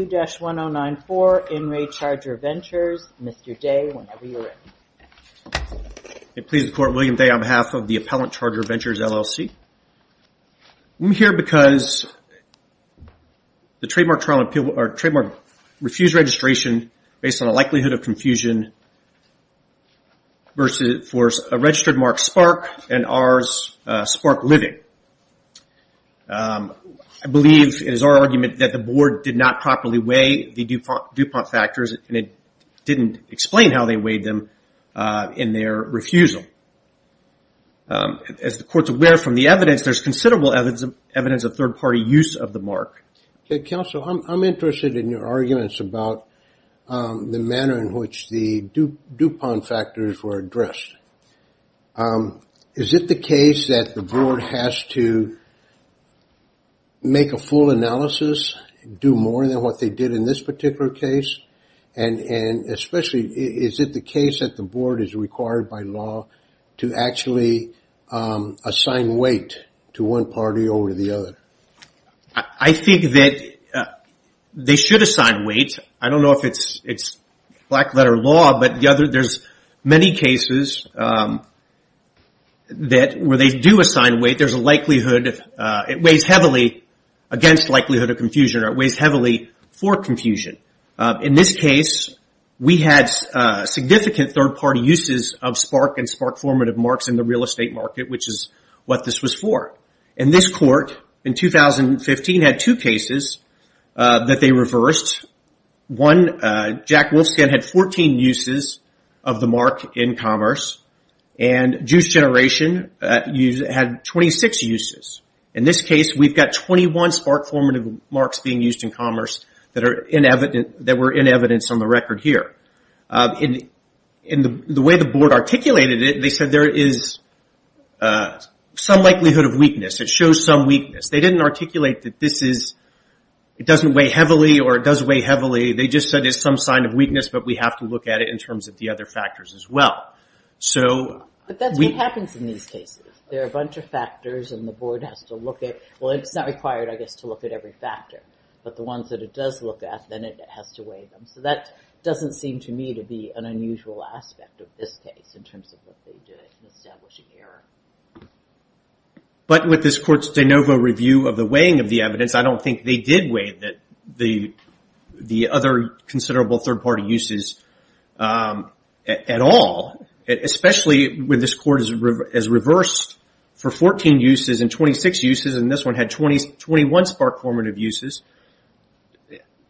2-1094, In Re Charger Ventures, Mr. Day, whenever you're ready. It pleases the Court, William Day on behalf of the Appellant Charger Ventures LLC. I'm here because the trademark refused registration based on a likelihood of confusion for a registered mark SPARK and ours SPARK Living. I believe, it is our argument, that the Board did not properly weigh the DuPont factors, and it didn't explain how they weighed them in their refusal. As the Court's aware from the evidence, there's considerable evidence of third-party use of the mark. Counsel, I'm interested in your arguments about the manner in which the DuPont factors were addressed. Is it the case that the Board has to make a full analysis, do more than what they did in this particular case? Is it the case that the Board is required by law to actually assign weight to one party over the other? I think that they should assign weight. I don't know if it's black-letter law, but there's many cases where they do assign weight. It weighs heavily against likelihood of confusion, or it weighs heavily for confusion. In this case, we had significant third-party uses of SPARK and SPARK formative marks in the real estate market, which is what this was for. This Court, in 2015, had two cases that they reversed. One, Jack Wolfskin had 14 uses of the mark in commerce, and he had 26 uses. In this case, we've got 21 SPARK formative marks being used in commerce that were in evidence on the record here. The way the Board articulated it, they said there is some likelihood of weakness. It shows some weakness. They didn't articulate that this doesn't weigh heavily, or it does weigh heavily. They just said there's some sign of weakness, but we have to look at it in terms of the other factors as well. But that's what happens in these cases. There are a bunch of factors, and the Board has to look at...well, it's not required, I guess, to look at every factor, but the ones that it does look at, then it has to weigh them. So that doesn't seem to me to be an unusual aspect of this case in terms of what they did in establishing error. But with this Court's de novo review of the weighing of the evidence, I don't think they did weigh the other considerable third-party uses at all, especially when this Court has reversed for 14 uses and 26 uses, and this one had 21 SPARK formative uses.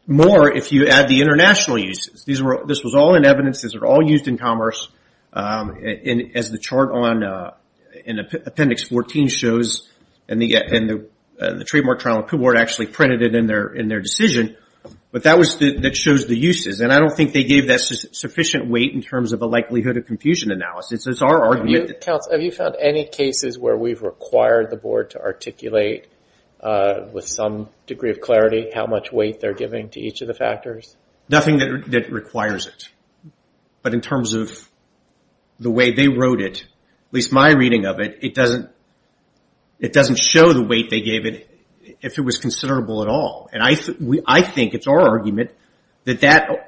More if you add the international uses. This was all in evidence. These were all used in commerce, as the chart in Appendix 14 shows, and the Trademark Trial and Appeal Board actually printed it in their decision. But that shows the uses, and I don't think they gave that sufficient weight in terms of the likelihood of confusion analysis. It's our argument... Have you found any cases where we've required the Board to articulate, with some degree of clarity, how much weight they're giving to each of the factors? Nothing that requires it. But in terms of the way they wrote it, at least my reading of it, it doesn't show the weight they gave it if it was considerable at all. I think, it's our argument, that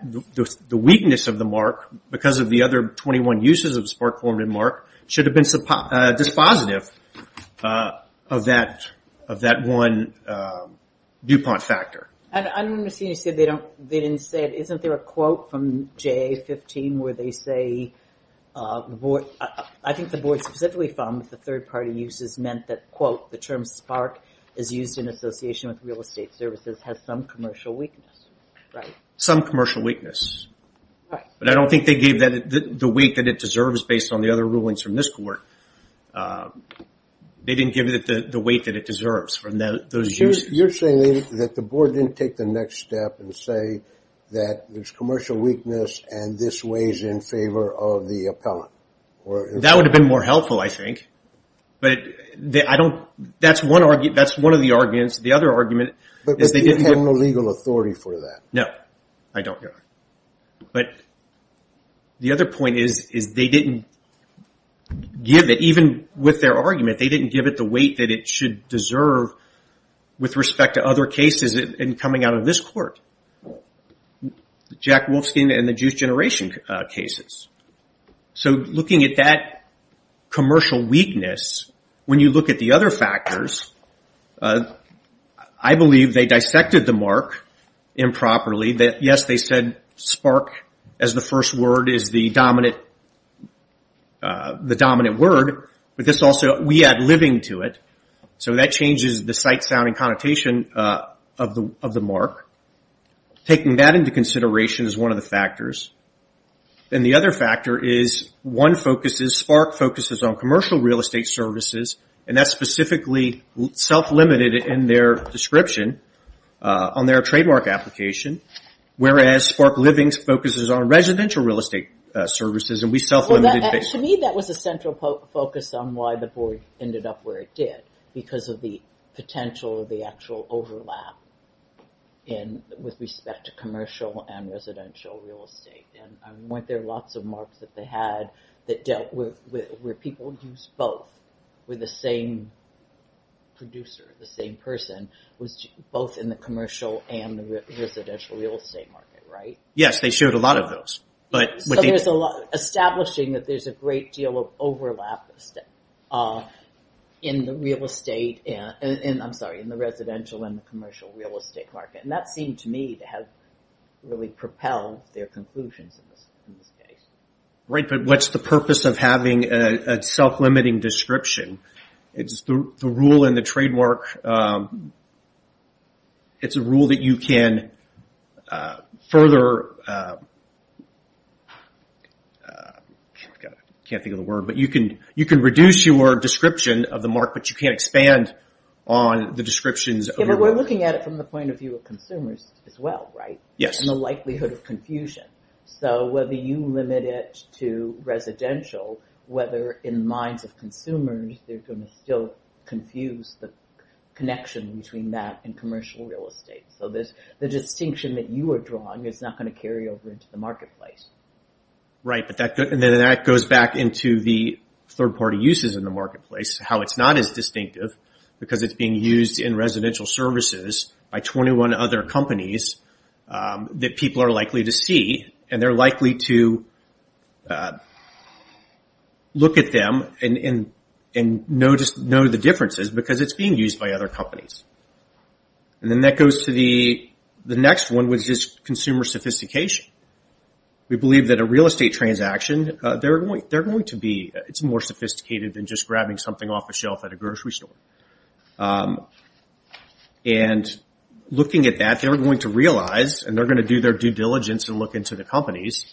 the weakness of the mark, because of the other 21 uses of SPARK formative mark, should have been dispositive of that one DuPont factor. I don't understand. You said they didn't say it. Isn't there a quote from JA15 where they say, I think the Board specifically found that the third-party uses meant that, quote, the term SPARK is used in association with real estate services has some commercial weakness. Some commercial weakness. But I don't think they gave the weight that it deserves based on the other rulings from this Court. They didn't give it the weight that it deserves from those uses. You're saying that the Board didn't take the next step and say that there's commercial weakness and this weighs in favor of the But I don't, that's one of the arguments. The other argument is they didn't have... But you have no legal authority for that. No. I don't. But the other point is they didn't give it, even with their argument, they didn't give it the weight that it should deserve with respect to other cases in coming out of this Court. Jack Wolfskin and the Juice Generation cases. So looking at that commercial weakness, when you look at the other factors, I believe they dissected the mark improperly. Yes, they said SPARK as the first word is the dominant word, but this also we add living to it. So that changes the sight, sound, and connotation of the mark. Taking that into consideration is one of the factors. And the other factor is one focuses, SPARK focuses on commercial real estate services and that's specifically self-limited in their description on their trademark application. Whereas SPARK Living focuses on residential real estate services. To me that was a central focus on why the Board ended up where it did. Because of the potential of the actual overlap with respect to commercial and residential real estate. Weren't there lots of marks that they had that dealt with where people used both, were the same producer, the same person, was both in the commercial and the residential real estate market, right? Yes, they showed a lot of those. Establishing that there's a great deal of overlap in the real estate, I'm sorry, in the residential and the commercial real estate market. And that seemed to me to have really propelled their conclusions in this case. What's the purpose of having a self-limiting description? It's the rule in the trademark it's a rule that you can further I can't think of the word but you can reduce your description of the mark but you can't expand on the descriptions. We're looking at it from the point of view of the likelihood of confusion. So whether you limit it to residential, whether in the minds of consumers they're going to still confuse the connection between that and commercial real estate. So the distinction that you are drawing is not going to carry over into the marketplace. Right, and then that goes back into the third-party uses in the marketplace, how it's not as distinctive because it's being used in residential services by 21 other companies that people are likely to see and they're likely to look at them and know the differences because it's being used by other companies. And then that goes to the next one which is consumer sophistication. We believe that a real estate transaction, they're going to be more sophisticated than just grabbing something off a shelf at a grocery store. And looking at that they're going to realize and they're going to do their due diligence and look into the companies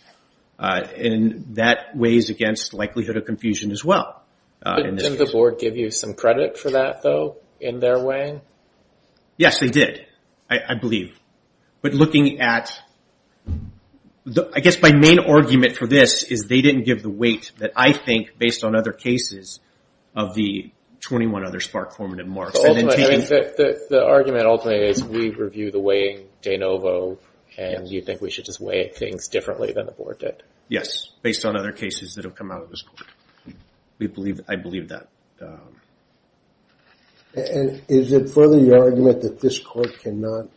and that weighs against likelihood of confusion as well. Didn't the board give you some credit for that though in their way? Yes, they did, I believe. But looking at, I guess my main argument for this is they didn't give the weight that I think based on other cases of the 21 other SPARC formative marks. The argument ultimately is we review the weighing de novo and you think we should just weigh things differently than the board did. Yes, based on other cases that have come out of this court. I believe that. And is it further your argument that this court cannot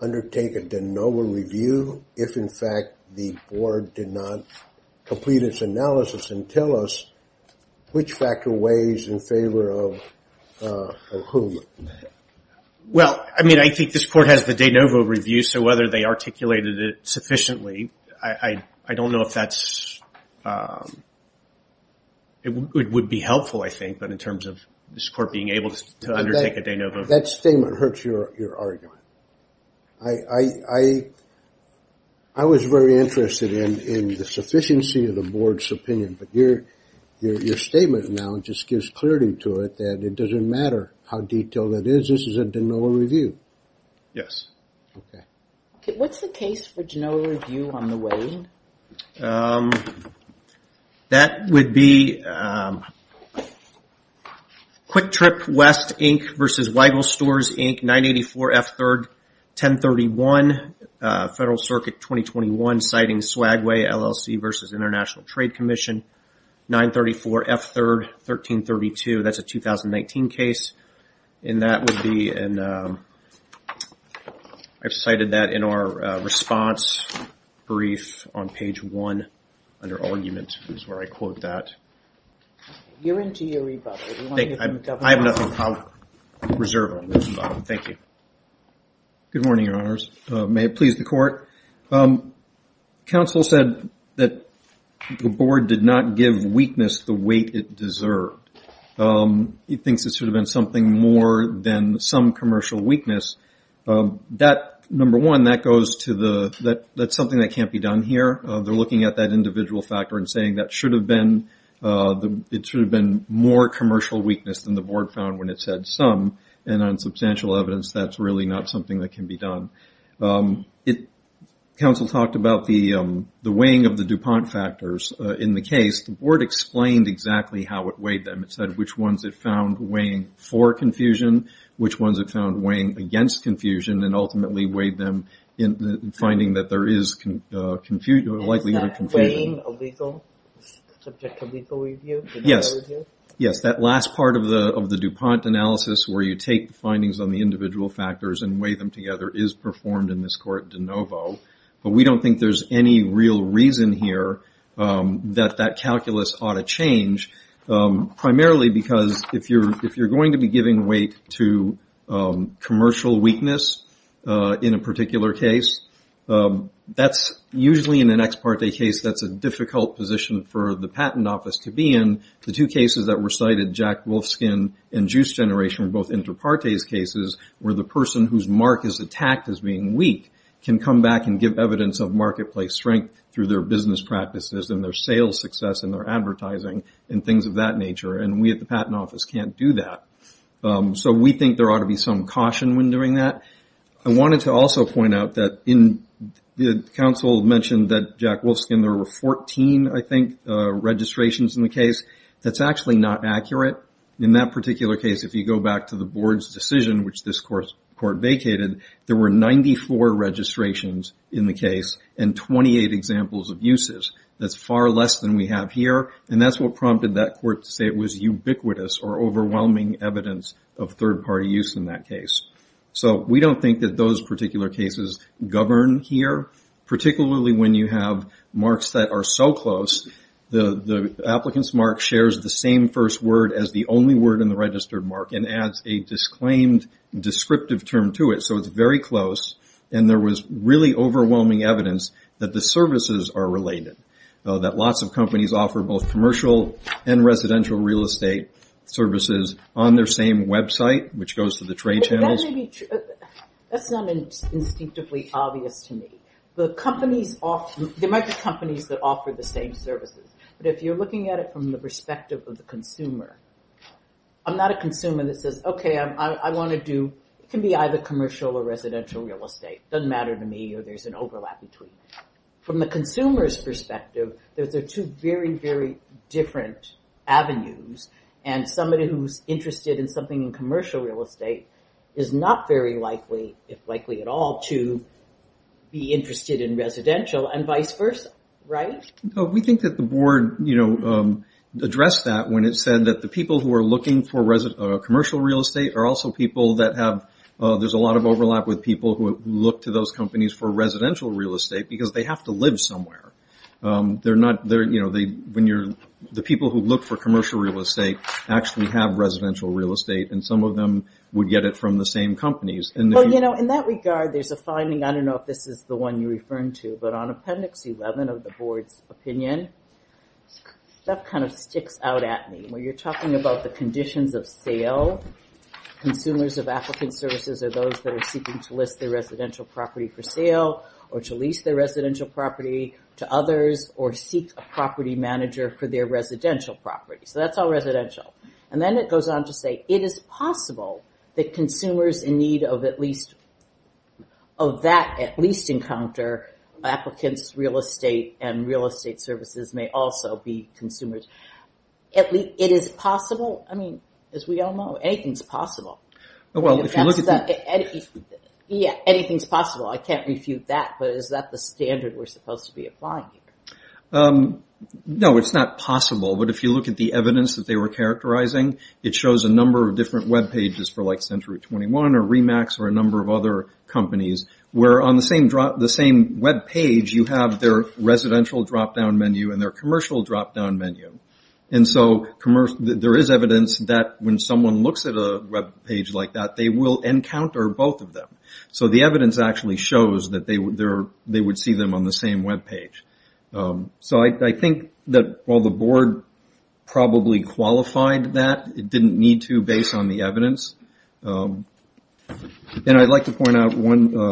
undertake a de novo review if in fact the board did not complete its analysis and tell us which factor weighs in favor of whom? Well, I mean I think this court has the de novo review so whether they articulated it sufficiently I don't know if that's it would be helpful I think but in terms of this court being able to undertake a de novo. That statement hurts your argument. I was very interested in the sufficiency of the board's opinion but your statement now just gives clarity to it that it doesn't matter how detailed it is this is a de novo review. Yes. What's the case for de novo review on the weighing? That would be Quick Trip West Inc. versus Weigel Stores Inc. 984 F3rd 1031 Federal Circuit 2021 citing Swagway LLC versus International Trade Commission 934 F3rd 1332 that's a 2019 case and that would be I've cited that in our response brief on page 1 under argument is where I quote that. You're in to your rebuttal. I have nothing to reserve on this. Thank you. Good morning, your honors. May it please the court. Counsel said that the board did not give weakness the weight it deserved. He thinks it should have been something more than some commercial weakness. Number one, that's something that can't be done here. They're looking at that individual factor and saying that should have been more commercial weakness than the board found when it said some and on substantial evidence that's really not something that can be done. Counsel talked about the weighing of the DuPont factors in the case. The board explained exactly how it weighed them. It said which ones it found weighing for confusion, which ones it found weighing against confusion and ultimately weighed them finding that there is a likelihood of confusion. Is that weighing subject to legal review? Yes. That last part of the DuPont analysis where you take findings on the individual factors and weigh them together is performed in this court de novo. We don't think there's any real reason here that that calculus ought to change primarily because if you're going to be giving weight to commercial weakness in a particular case, that's usually in an ex parte case that's a difficult position for the patent office. There were cases that were cited, Jack Wolfskin and Juice Generation, both inter partes cases where the person whose mark is attacked as being weak can come back and give evidence of marketplace strength through their business practices and their sales success and their advertising and things of that nature. We at the patent office can't do that. We think there ought to be some caution when doing that. I wanted to also point out that the counsel mentioned that Jack Wolfskin, there were 14 I think registrations in the case. That's actually not accurate. In that particular case, if you go back to the board's decision which this court vacated, there were 94 registrations in the case and 28 examples of uses. That's far less than we have here and that's what prompted that court to say it was ubiquitous or overwhelming evidence of third party use in that case. We don't think that those particular cases govern here, particularly when you have marks that are so close. The applicant's mark shares the same first word as the only word in the registered mark and adds a disclaimed descriptive term to it so it's very close and there was really overwhelming evidence that the services are related. That lots of companies offer both commercial and residential real estate services on their same website which goes to the trade channels. That's not instinctively obvious to me. There might be companies that offer the same services but if you're looking at it from the perspective of the consumer I'm not a consumer that says, okay, I want to do, it can be either commercial or residential real estate. It doesn't matter to me or there's an overlap between. From the consumer's perspective, those are two very, very different avenues and somebody who's interested in something in commercial real estate is not very likely, if likely at all to be interested in residential and vice versa. We think that the board addressed that when it said that the people who are looking for commercial real estate are also people that have, there's a lot of overlap with people who look to those companies for residential real estate because they have to live somewhere. The people who look for commercial real estate actually have residential real estate and some of them would get it from the same companies. In that regard, there's a finding, I don't know if this is the one you're referring to but on appendix 11 of the board's opinion that kind of sticks out at me. When you're talking about the conditions of sale consumers of applicant services are those that are seeking to list their residential property for sale or to lease their residential property to others or seek a property manager for their residential property. That's all residential. Then it goes on to say it is possible that consumers in need of at least, of that at least encounter applicants real estate and real estate services may also be consumers. It is possible I mean, as we all know, anything's possible. Anything's possible, I can't refute that but is that the standard we're supposed to be applying here? No, it's not possible but if you look at the evidence that they were characterizing it shows a number of different web pages for like Century 21 or Remax or a number of other companies where on the same web page you have their residential drop down menu and their commercial drop down menu. There is evidence that when someone looks at a web page like that they will encounter both of them. The evidence actually shows that they would see them on the same web page. I think that while the board probably qualified that, it didn't need to based on the evidence. I'd like to point out one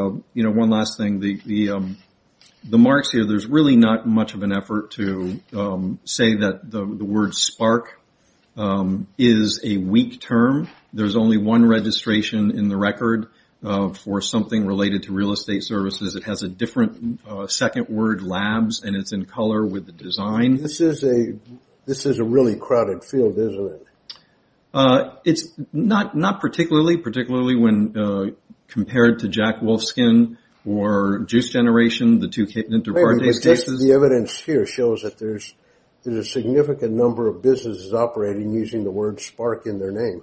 last thing. The marks here, there's really not much of an effort to say that the word spark is a weak term. There's only one registration in the record for something related to real estate services. It has a different second word, labs, and it's in color with the design. This is a really crowded field, isn't it? It's not particularly particularly when compared to Jack Wolfskin or Juice Generation. The evidence here shows that there's a significant number of businesses operating using the word spark in their name.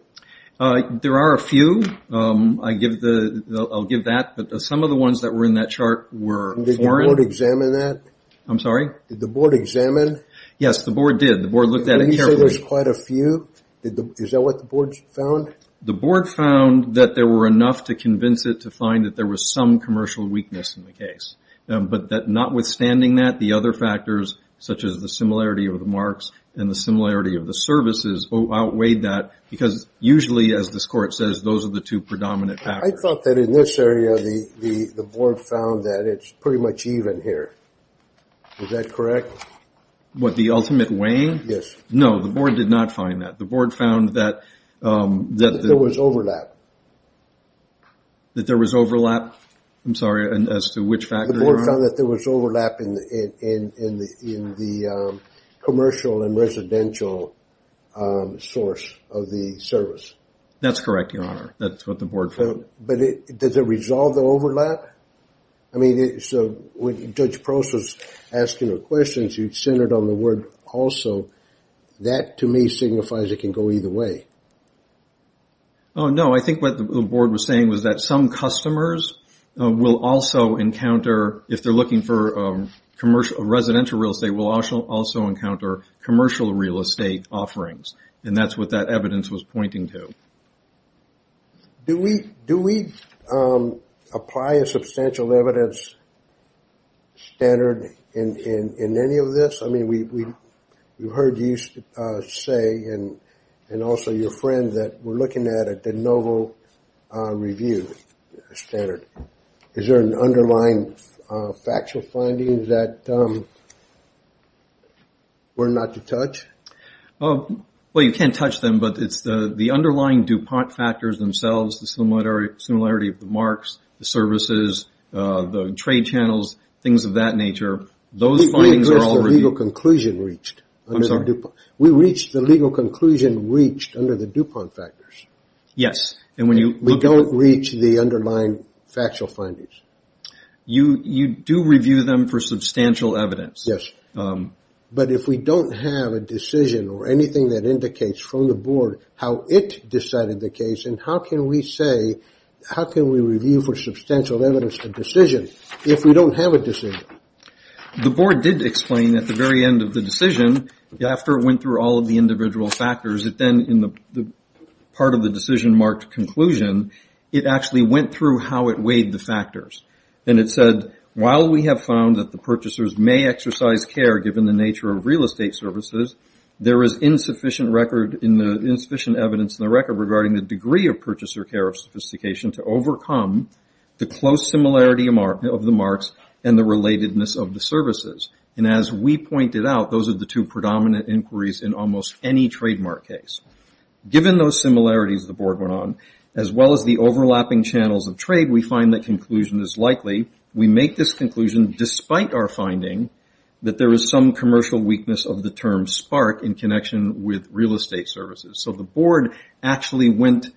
There are a few. I'll give that but some of the ones that were in that chart were foreign. Did the board examine that? Yes, the board did. The board found that there were enough to convince it to find that there was some commercial weakness in the case. Notwithstanding that, the other factors such as the similarity of the marks and the similarity of the services outweighed that because usually as this court says, those are the two predominant factors. I thought that in this area the board found that it's pretty much even here. Is that correct? The ultimate weighing? No, the board did not find that. There was overlap. There was overlap as to which factor you're on? There was overlap in the commercial and residential source of the service. That's correct, Your Honor. That's what the board found. Does it resolve the overlap? When Judge Prost was asking the questions, you centered on the word also. That to me signifies it can go either way. No, I think what the board was saying was that some customers will also encounter, if they're looking for residential real estate, will also encounter commercial real estate offerings. That's what that evidence was pointing to. Do we apply a substantial evidence standard in any of this? We heard you say and also your friend that we're looking at a de novo review standard. Is there an underlying factual finding that we're not allowed to touch? You can't touch them, but it's the underlying DuPont factors themselves, the similarity of the marks, the services, the trade channels, things of that nature. We reached the legal conclusion reached under the DuPont factors. We don't reach the underlying factual findings. You do review them for substantial evidence. Yes, but if we don't have a decision or anything that indicates from the board how it decided the case and how can we say, how can we review for substantial evidence a decision if we don't have a decision? The board did explain at the very end of the decision, after it went through all of the individual factors, it then in the part of the decision marked conclusion, it actually went through how it weighed the factors. It said, while we have found that the purchasers may exercise care given the nature of real estate services, there is insufficient evidence in the record regarding the degree of purchaser care of sophistication to overcome the close similarity of the marks and the relatedness of the services. As we pointed out, those are the two predominant inquiries in almost any trademark case. Given those similarities the board went on, as well as the overlapping channels of trade, we find that conclusion is likely. We make this conclusion despite our finding that there is some commercial weakness of the term spark in connection with real estate services. The board actually went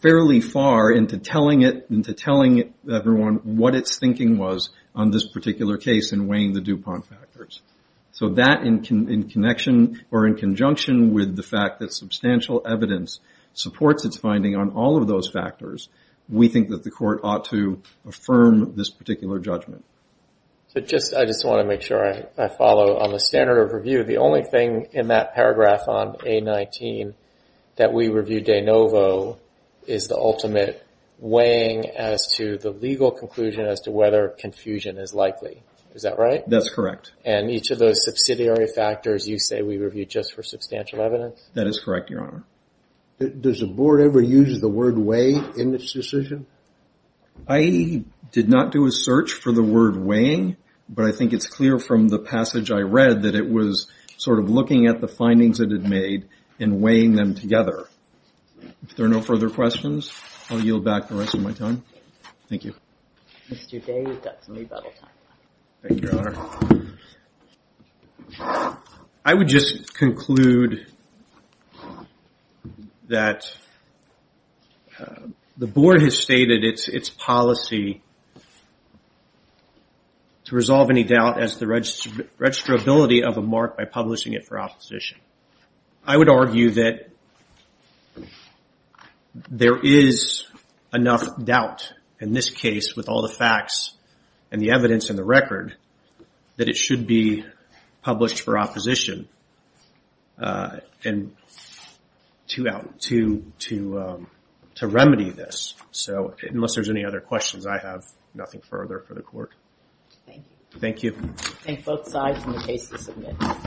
fairly far into telling everyone what its thinking was on this particular case in weighing the DuPont factors. That in conjunction with the fact that substantial evidence supports its finding on all of those factors, we think that the court ought to affirm this particular judgment. I just want to make sure I follow on the standard of review. The only thing in that paragraph on A19 that we reviewed de novo is the ultimate weighing as to the legal conclusion as to whether confusion is likely. Is that right? That's correct. And each of those subsidiary factors you say we reviewed just for substantial evidence? That is correct, your honor. Does the board ever use the word weigh in this decision? I did not do a search for the word weighing, but I think it's clear from the passage I read that it was sort of looking at the findings it had made and weighing them together. If there are no further questions I'll yield back the rest of my time. Thank you. Thank you, your honor. I would just conclude that the board has stated its policy to resolve any doubt as to the registrability of a mark by publishing it for opposition. I would argue that there is enough doubt in this case with all the facts and the evidence and the record that it should be published for opposition. And to remedy this. So unless there's any other questions, I have nothing further for the court. Thank you. Thank you.